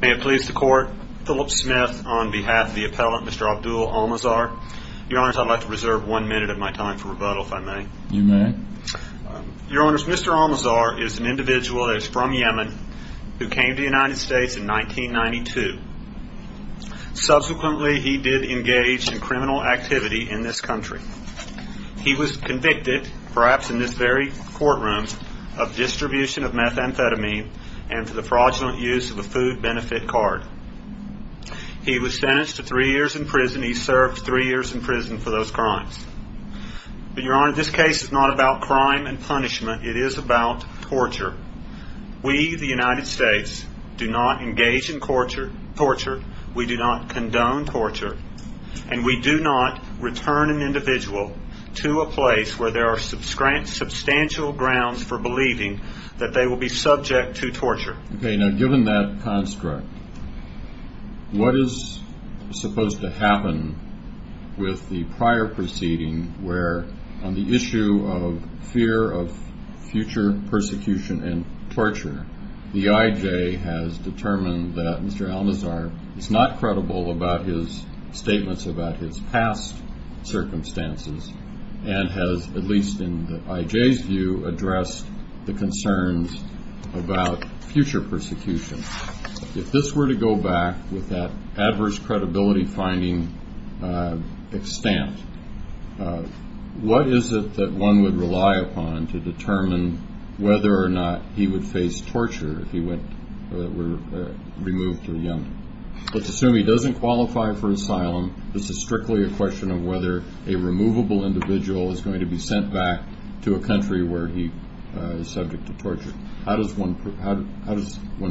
May it please the Court, Philip Smith on behalf of the appellant, Mr. Abdul Almazghar. Your Honors, I'd like to reserve one minute of my time for rebuttal, if I may. You may. Your Honors, Mr. Almazghar is an individual that is from Yemen who came to the United States in 1992. Subsequently, he did engage in criminal activity in this country. He was convicted, perhaps in this very courtroom, of distribution of methamphetamine and for the fraudulent use of a food benefit card. He was sentenced to three years in prison. He served three years in prison for those crimes. But, Your Honor, this case is not about crime and punishment. It is about torture. We, the United States, do not engage in torture, we do not condone torture, and we do not return an individual to a place where there are substantial grounds for believing that they will be subject to torture. Okay, now given that construct, what is supposed to happen with the prior proceeding where on the issue of fear of future persecution and torture, the IJ has determined that Mr. Almazghar is not credible about his statements about his past circumstances and has, at least in the IJ's view, addressed the concerns about future persecution. If this were to go back with that adverse credibility finding extent, what is it that one would rely upon to determine whether or not he would face torture if he were removed from the IJ? Let's assume he doesn't qualify for asylum. This is strictly a question of whether a removable individual is going to be sent back to a country where he is subject to torture. How does one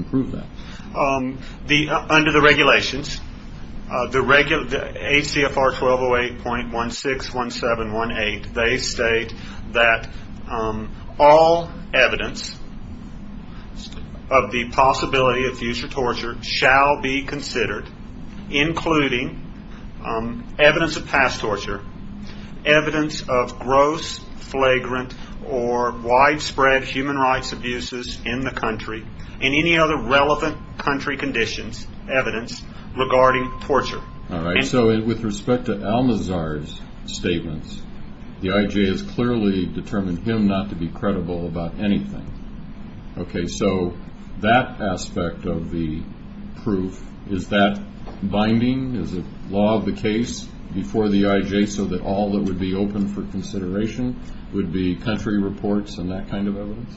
prove that? Under the regulations, ACFR 1208.161718, they state that all evidence of the possibility of future torture shall be considered, including evidence of past torture, evidence of gross, flagrant, or widespread human rights abuses in the country, and any other relevant country conditions, evidence regarding torture. All right, so with respect to Almazghar's statements, the IJ has clearly determined him not to be credible about anything. Okay, so that aspect of the proof, is that binding? Is it law of the case before the IJ so that all that would be open for consideration would be country reports and that kind of evidence?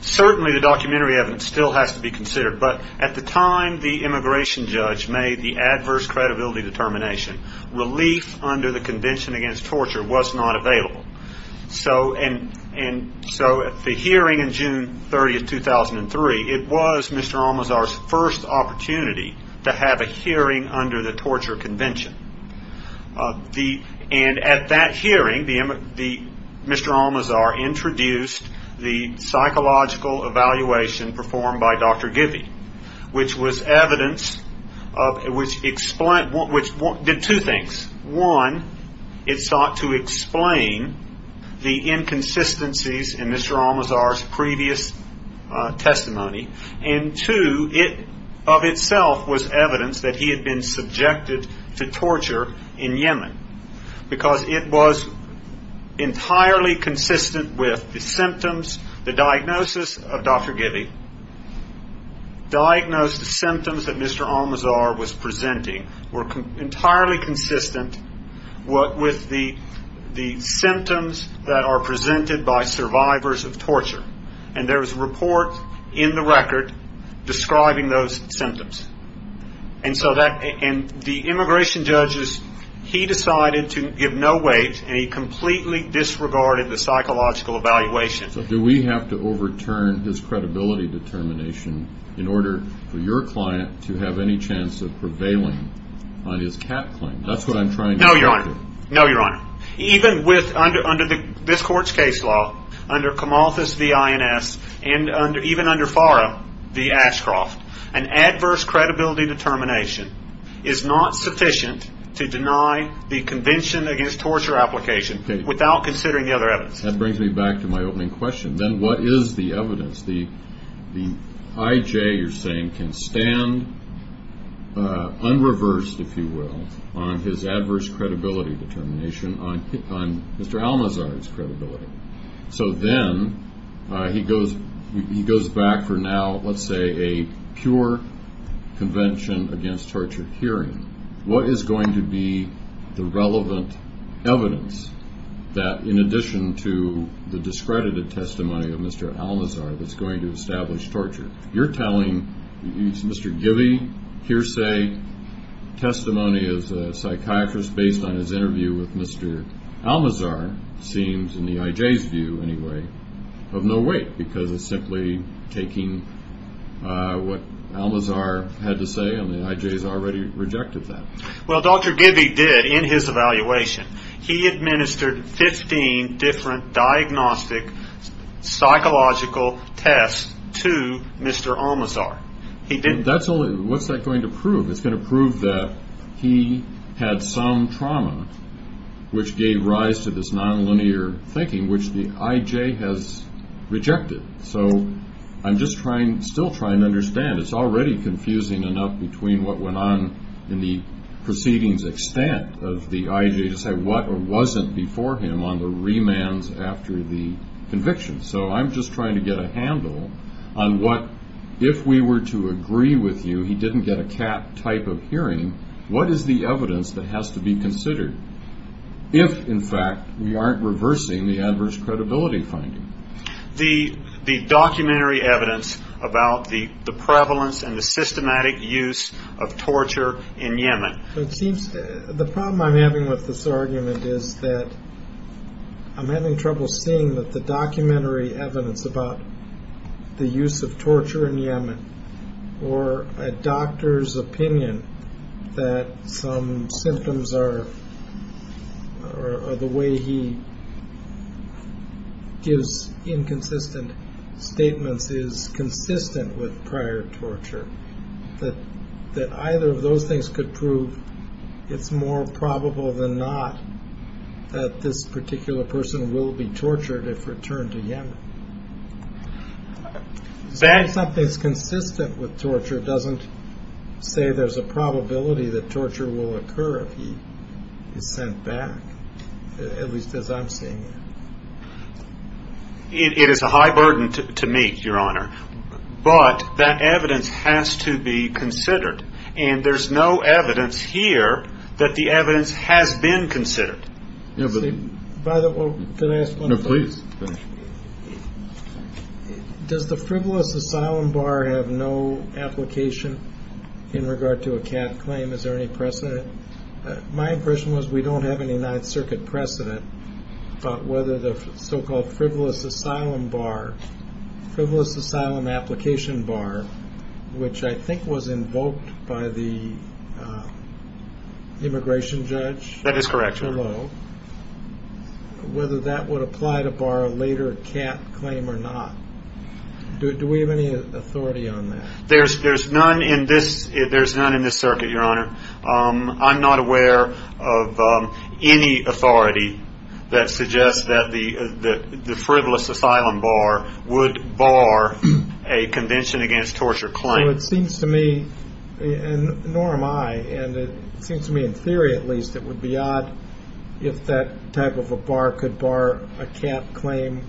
Certainly the documentary evidence still has to be considered, but at the time the immigration judge made the adverse credibility determination, relief under the Convention Against Torture was not available. So at the hearing on June 30, 2003, it was Mr. Almazghar's first opportunity to have a hearing under the Torture Convention. And at that hearing, Mr. Almazghar introduced the psychological evaluation performed by Dr. Givy, which did two things. One, it sought to explain the inconsistencies in Mr. Almazghar's previous testimony, and two, it of itself was evidence that he had been subjected to torture in Yemen. Because it was entirely consistent with the symptoms, the diagnosis of Dr. Givy, diagnosed symptoms that Mr. Almazghar was presenting were entirely consistent with the symptoms that are presented by survivors of torture. And there was a report in the record describing those symptoms. And the immigration judge, he decided to give no weight and he completely disregarded the psychological evaluation. So do we have to overturn his credibility determination in order for your client to have any chance of prevailing on his CAT claim? That's what I'm trying to do. No, Your Honor. Even under this court's case law, under Comalthus v. INS, and even under Farah v. Ashcroft, an adverse credibility determination is not sufficient to deny the Convention Against Torture application without considering the other evidence. That brings me back to my opening question. Then what is the evidence? The IJ, you're saying, can stand unreversed, if you will, on his adverse credibility determination on Mr. Almazghar's credibility. So then he goes back for now, let's say, a pure Convention Against Torture hearing. What is going to be the relevant evidence that, in addition to the discredited testimony of Mr. Almazghar, that's going to establish torture? You're telling Mr. Givey hearsay testimony as a psychiatrist based on his interview with Mr. Almazghar seems, in the IJ's view anyway, of no weight. Because it's simply taking what Almazghar had to say, and the IJ has already rejected that. Well, Dr. Givey did, in his evaluation. He administered 15 different diagnostic psychological tests to Mr. Almazghar. What's that going to prove? It's going to prove that he had some trauma, which gave rise to this nonlinear thinking, which the IJ has rejected. So I'm just still trying to understand. It's already confusing enough between what went on in the proceedings extent of the IJ to say what wasn't before him on the remands after the conviction. So I'm just trying to get a handle on what, if we were to agree with you he didn't get a CAT type of hearing, what is the evidence that has to be considered if, in fact, we aren't reversing the adverse credibility finding? The documentary evidence about the prevalence and the systematic use of torture in Yemen. The problem I'm having with this argument is that I'm having trouble seeing that the documentary evidence about the use of torture in Yemen, or a doctor's opinion that some symptoms are the way he gives inconsistent statements, is consistent with prior torture, that either of those things could prove it's more probable than not that this particular person will be tortured if returned to Yemen. Saying something's consistent with torture doesn't say there's a probability that torture will occur if he is sent back, at least as I'm seeing it. It is a high burden to me, Your Honor, but that evidence has to be considered. And there's no evidence here that the evidence has been considered. By the way, can I ask one question? No, please. Does the frivolous asylum bar have no application in regard to a CAT claim? Is there any precedent? My impression was we don't have any Ninth Circuit precedent about whether the so-called frivolous asylum bar, frivolous asylum application bar, which I think was invoked by the immigration judge? That is correct. Whether that would apply to bar a later CAT claim or not. Do we have any authority on that? There's none in this circuit, Your Honor. I'm not aware of any authority that suggests that the frivolous asylum bar would bar a convention against torture claim. It seems to me, and nor am I, and it seems to me in theory at least, it would be odd if that type of a bar could bar a CAT claim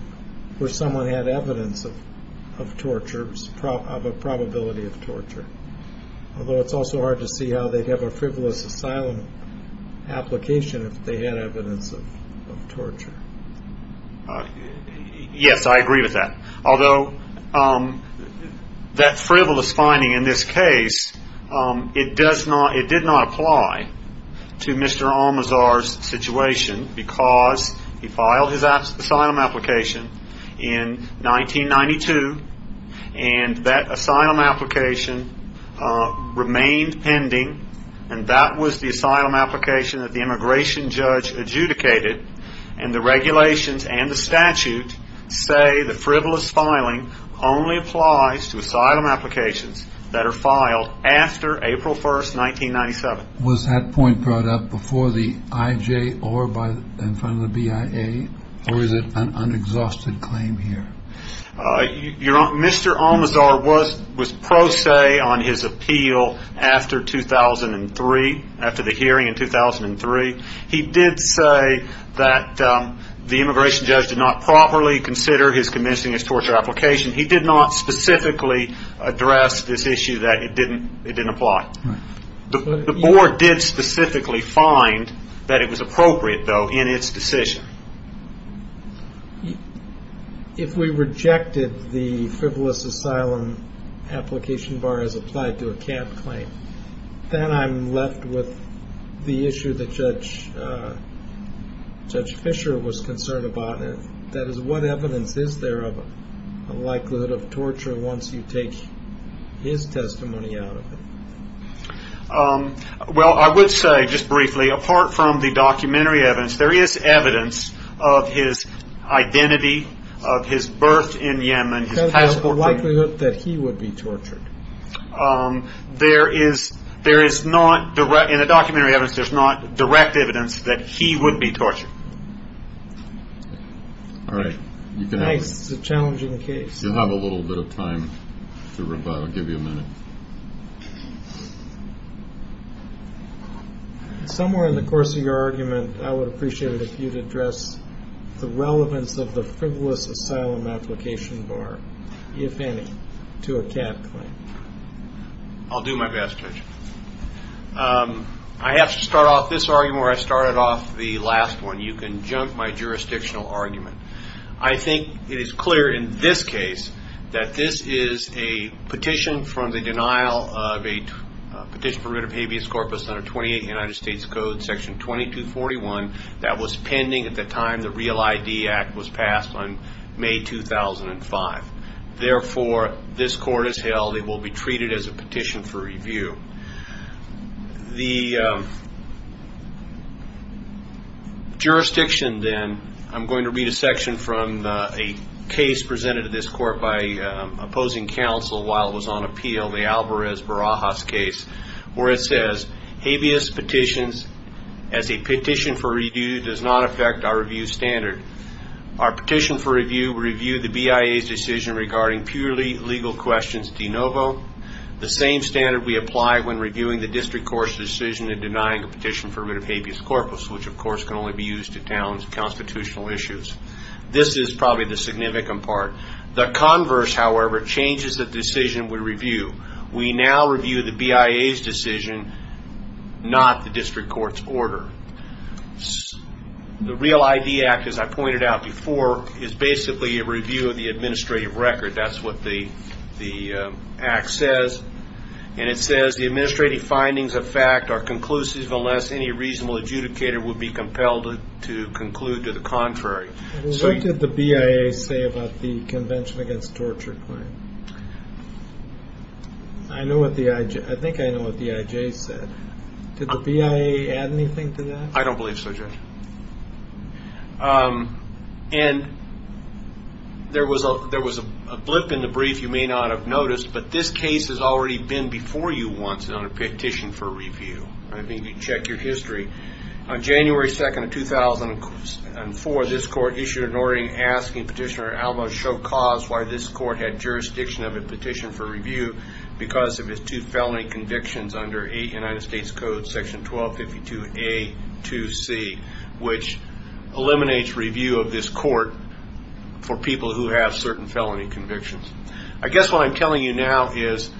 where someone had evidence of torture, of a probability of torture. Although it's also hard to see how they'd have a frivolous asylum application if they had evidence of torture. Yes, I agree with that. Although that frivolous finding in this case, it does not, it did not apply to Mr. Almazar's situation because he filed his asylum application in 1992 and that asylum application remained pending and that was the asylum application that the immigration judge adjudicated and the regulations and the statute say the frivolous filing only applies to asylum applications that are filed after April 1st, 1997. Was that point brought up before the IJ or in front of the BIA or is it an unexhausted claim here? Mr. Almazar was pro se on his appeal after 2003, after the hearing in 2003. He did say that the immigration judge did not properly consider his convincing his torture application. He did not specifically address this issue that it didn't apply. The board did specifically find that it was appropriate though in its decision. If we rejected the frivolous asylum application bar as applied to a camp claim, then I'm left with the issue that Judge Fischer was concerned about. That is, what evidence is there of a likelihood of torture once you take his testimony out of it? Well, I would say, just briefly, apart from the documentary evidence, there is evidence of his identity, of his birth in Yemen, his passport. The likelihood that he would be tortured? There is not, in the documentary evidence, there's not direct evidence that he would be tortured. All right. It's a challenging case. You'll have a little bit of time to rebut. I'll give you a minute. Somewhere in the course of your argument, I would appreciate it if you'd address the relevance of the frivolous asylum application bar, if any, to a camp claim. I'll do my best, Judge. I have to start off this argument where I started off the last one. You can junk my jurisdictional argument. I think it is clear in this case that this is a petition from the denial of a petition for writ of habeas corpus under 28 United States Code, section 2241, that was pending at the time the REAL ID Act was passed on May 2005. Therefore, this court has held it will be treated as a petition for review. The jurisdiction, then, I'm going to read a section from a case presented to this court by opposing counsel while it was on appeal, the Alvarez-Barajas case, where it says, habeas petitions as a petition for review does not affect our review standard. Our petition for review reviewed the BIA's decision regarding purely legal questions de novo. The same standard we apply when reviewing the district court's decision in denying a petition for writ of habeas corpus, which, of course, can only be used to challenge constitutional issues. This is probably the significant part. The converse, however, changes the decision we review. We now review the BIA's decision, not the district court's order. The REAL ID Act, as I pointed out before, is basically a review of the administrative record. That's what the act says. And it says the administrative findings of fact are conclusive unless any reasonable adjudicator would be compelled to conclude to the contrary. What did the BIA say about the Convention Against Torture claim? I think I know what the IJ said. Did the BIA add anything to that? I don't believe so, Judge. And there was a blip in the brief you may not have noticed, but this case has already been before you once on a petition for review. I mean, you can check your history. On January 2nd of 2004, this court issued an ordering asking Petitioner Albo Chokas why this court had jurisdiction of a petition for review because of his two felony convictions under United States Code Section 1252A-2C, which eliminates review of this court for people who have certain felony convictions. I guess what I'm telling you now is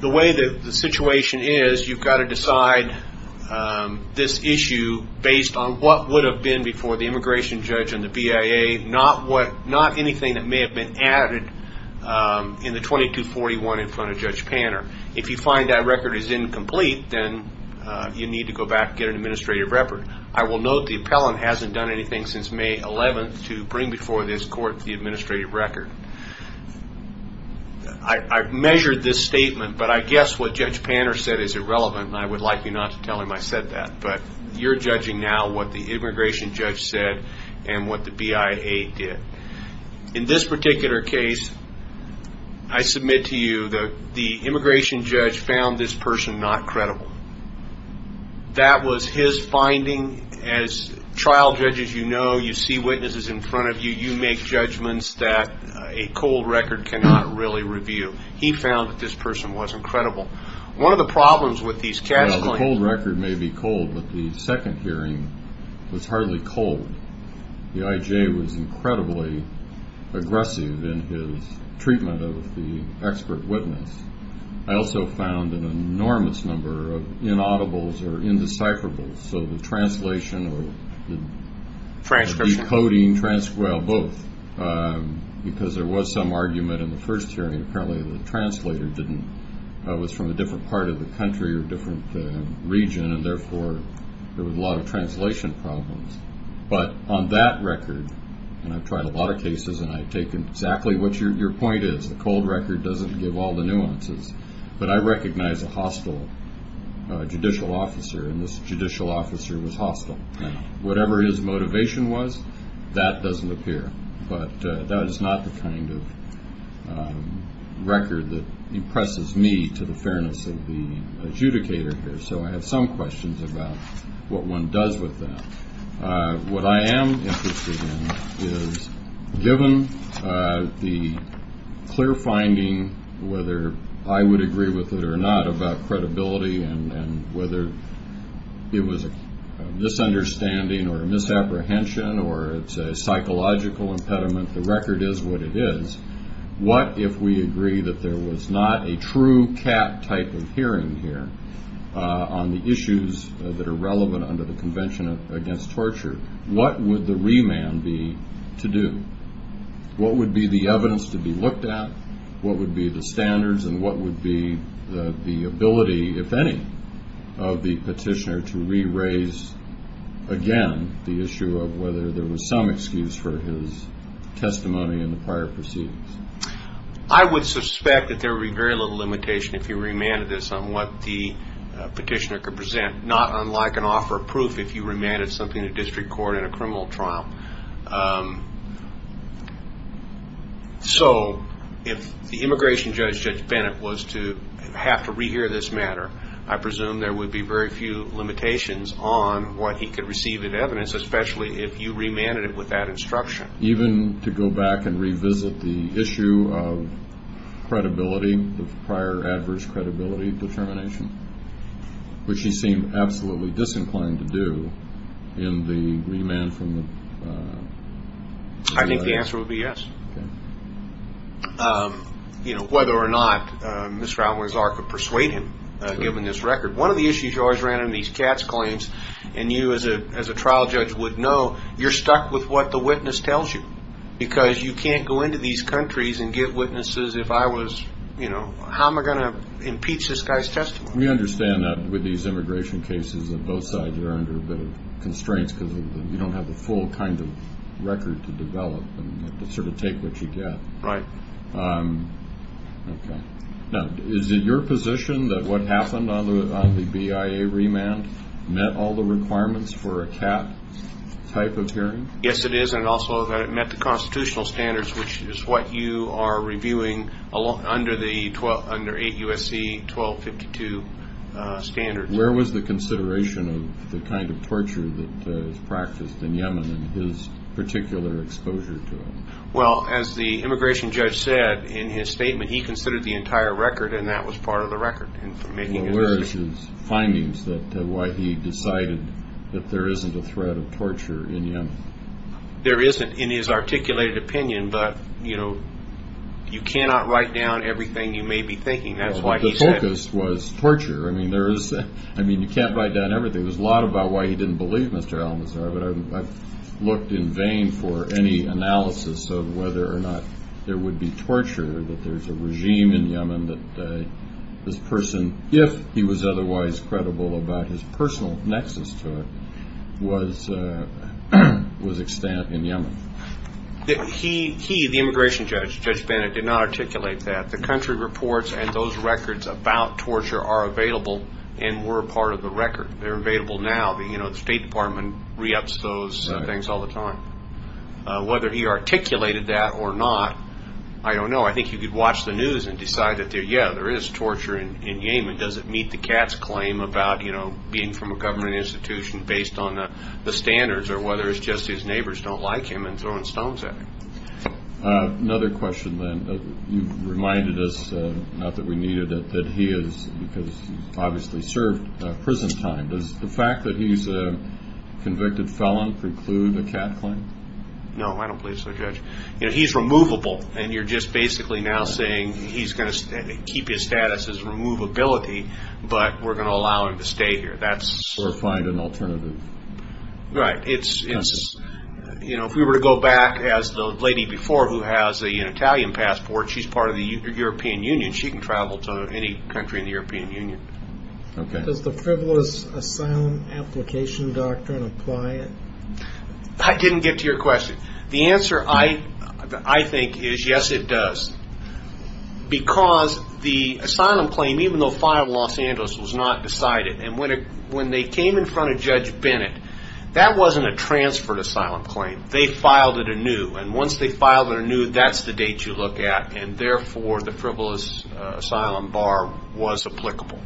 the way the situation is, you've got to decide this issue based on what would have been before the immigration judge and the BIA, not anything that may have been added in the 2241 in front of Judge Panner. If you find that record is incomplete, then you need to go back and get an administrative record. I will note the appellant hasn't done anything since May 11th to bring before this court the administrative record. I've measured this statement, but I guess what Judge Panner said is irrelevant, and I would like you not to tell him I said that. But you're judging now what the immigration judge said and what the BIA did. In this particular case, I submit to you that the immigration judge found this person not credible. That was his finding. As trial judges, you know, you see witnesses in front of you. You make judgments that a cold record cannot really review. He found that this person wasn't credible. Well, the cold record may be cold, but the second hearing was hardly cold. The IJ was incredibly aggressive in his treatment of the expert witness. I also found an enormous number of inaudibles or indecipherables, so the translation or the decoding, well, both, because there was some argument in the first hearing. Apparently the translator was from a different part of the country or different region, and therefore there was a lot of translation problems. But on that record, and I've tried a lot of cases, and I take exactly what your point is, the cold record doesn't give all the nuances. But I recognize a hostile judicial officer, and this judicial officer was hostile. Whatever his motivation was, that doesn't appear. But that is not the kind of record that impresses me to the fairness of the adjudicator here. So I have some questions about what one does with that. What I am interested in is, given the clear finding, whether I would agree with it or not, about credibility and whether it was a misunderstanding or a misapprehension or it's a psychological impediment, the record is what it is, what if we agree that there was not a true cat type of hearing here on the issues that are relevant under the Convention Against Torture? What would the remand be to do? What would be the evidence to be looked at? What would be the standards and what would be the ability, if any, of the petitioner to re-raise, again, the issue of whether there was some excuse for his testimony in the prior proceedings? I would suspect that there would be very little limitation if you remanded this on what the petitioner could present, not unlike an offer of proof if you remanded something to district court in a criminal trial. So if the immigration judge, Judge Bennett, was to have to re-hear this matter, I presume there would be very few limitations on what he could receive in evidence, especially if you remanded it with that instruction. Even to go back and revisit the issue of credibility, the prior adverse credibility determination, which he seemed absolutely disinclined to do in the remand from the U.S. I think the answer would be yes. Okay. You know, whether or not Mr. Alwyn's arc would persuade him, given this record. One of the issues you always ran in these CATS claims, and you as a trial judge would know, you're stuck with what the witness tells you because you can't go into these countries and get witnesses if I was, you know, how am I going to impeach this guy's testimony? We understand that with these immigration cases on both sides you're under a bit of constraints because you don't have the full kind of record to develop and sort of take what you get. Right. Okay. Now, is it your position that what happened on the BIA remand met all the requirements for a CAT type of hearing? Yes, it is, and also that it met the constitutional standards, which is what you are reviewing under 8 U.S.C. 1252 standards. Where was the consideration of the kind of torture that was practiced in Yemen and his particular exposure to it? Well, as the immigration judge said in his statement, he considered the entire record, and that was part of the record in making his decision. What were his findings that why he decided that there isn't a threat of torture in Yemen? There isn't in his articulated opinion, but, you know, you cannot write down everything you may be thinking. That's why he said it. Well, the focus was torture. I mean, you can't write down everything. There's a lot about why he didn't believe Mr. al-Nusra, but I've looked in vain for any analysis of whether or not there would be torture, that there's a regime in Yemen that this person, if he was otherwise credible about his personal nexus to it, was extant in Yemen. He, the immigration judge, Judge Bennett, did not articulate that. The country reports and those records about torture are available and were part of the record. They're available now. You know, the State Department re-ups those things all the time. Whether he articulated that or not, I don't know. I think you could watch the news and decide that, yeah, there is torture in Yemen. Does it meet the cat's claim about, you know, being from a government institution based on the standards, or whether it's just his neighbors don't like him and throwing stones at him? Another question, then. You've reminded us, not that we needed it, that he has obviously served prison time. Does the fact that he's a convicted felon preclude a cat claim? No, I don't believe so, Judge. You know, he's removable, and you're just basically now saying he's going to keep his status as removability, but we're going to allow him to stay here. Or find an alternative. Right. You know, if we were to go back, as the lady before who has an Italian passport, she's part of the European Union. She can travel to any country in the European Union. Okay. Does the frivolous asylum application doctrine apply? I didn't get to your question. The answer, I think, is yes, it does. Because the asylum claim, even though filed in Los Angeles, was not decided. And when they came in front of Judge Bennett, that wasn't a transferred asylum claim. They filed it anew. And once they filed it anew, that's the date you look at. And, therefore, the frivolous asylum bar was applicable.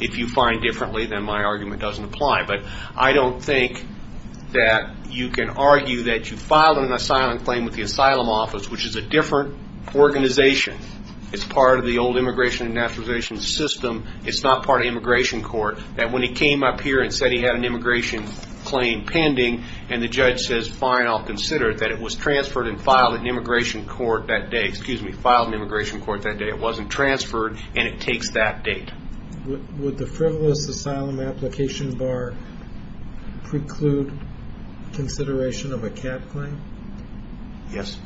If you find differently, then my argument doesn't apply. But I don't think that you can argue that you filed an asylum claim with the asylum office, which is a different organization. It's part of the old immigration and naturalization system. It's not part of immigration court. That when he came up here and said he had an immigration claim pending, and the judge says, fine, I'll consider it, that it was transferred and filed in immigration court that day. Excuse me, filed in immigration court that day. It wasn't transferred, and it takes that date. Would the frivolous asylum application bar preclude consideration of a cap claim? Yes.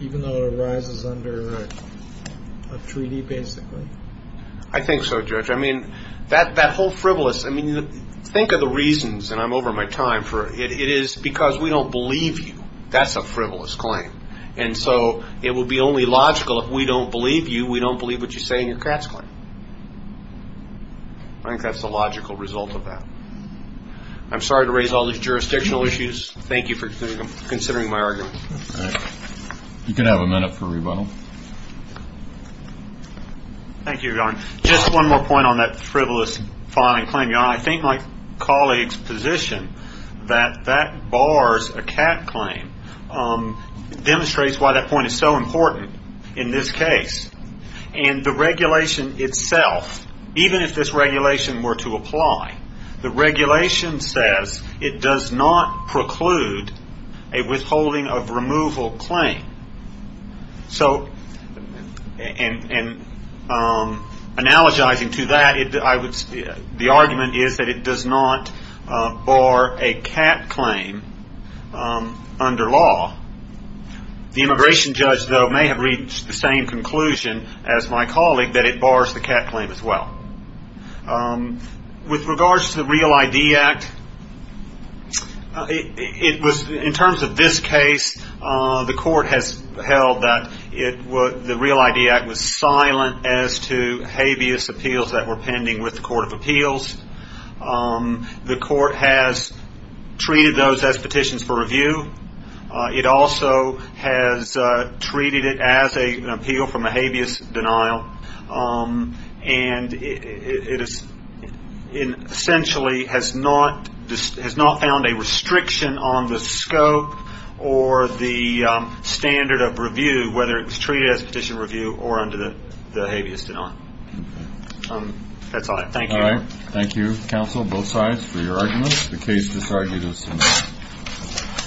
Even though it arises under a treaty, basically? I think so, Judge. I mean, that whole frivolous, I mean, think of the reasons, and I'm over my time. It is because we don't believe you. That's a frivolous claim. And so it would be only logical if we don't believe you, we don't believe what you say in your cat's claim. I think that's the logical result of that. I'm sorry to raise all these jurisdictional issues. Thank you for considering my argument. You can have a minute for rebuttal. Thank you, Your Honor. Just one more point on that frivolous filing claim, Your Honor. I think my colleague's position that that bars a cap claim demonstrates why that point is so important in this case. And the regulation itself, even if this regulation were to apply, the regulation says it does not preclude a withholding of removal claim. So, and analogizing to that, the argument is that it does not bar a cap claim under law. The immigration judge, though, may have reached the same conclusion as my colleague that it bars the cap claim as well. With regards to the REAL ID Act, in terms of this case, the court has held that the REAL ID Act was silent as to habeas appeals that were pending with the Court of Appeals. The court has treated those as petitions for review. It also has treated it as an appeal from a habeas denial. And it essentially has not found a restriction on the scope or the standard of review, whether it was treated as a petition review or under the habeas denial. That's all. Thank you. Thank you, counsel, both sides, for your arguments. The case is now adjourned.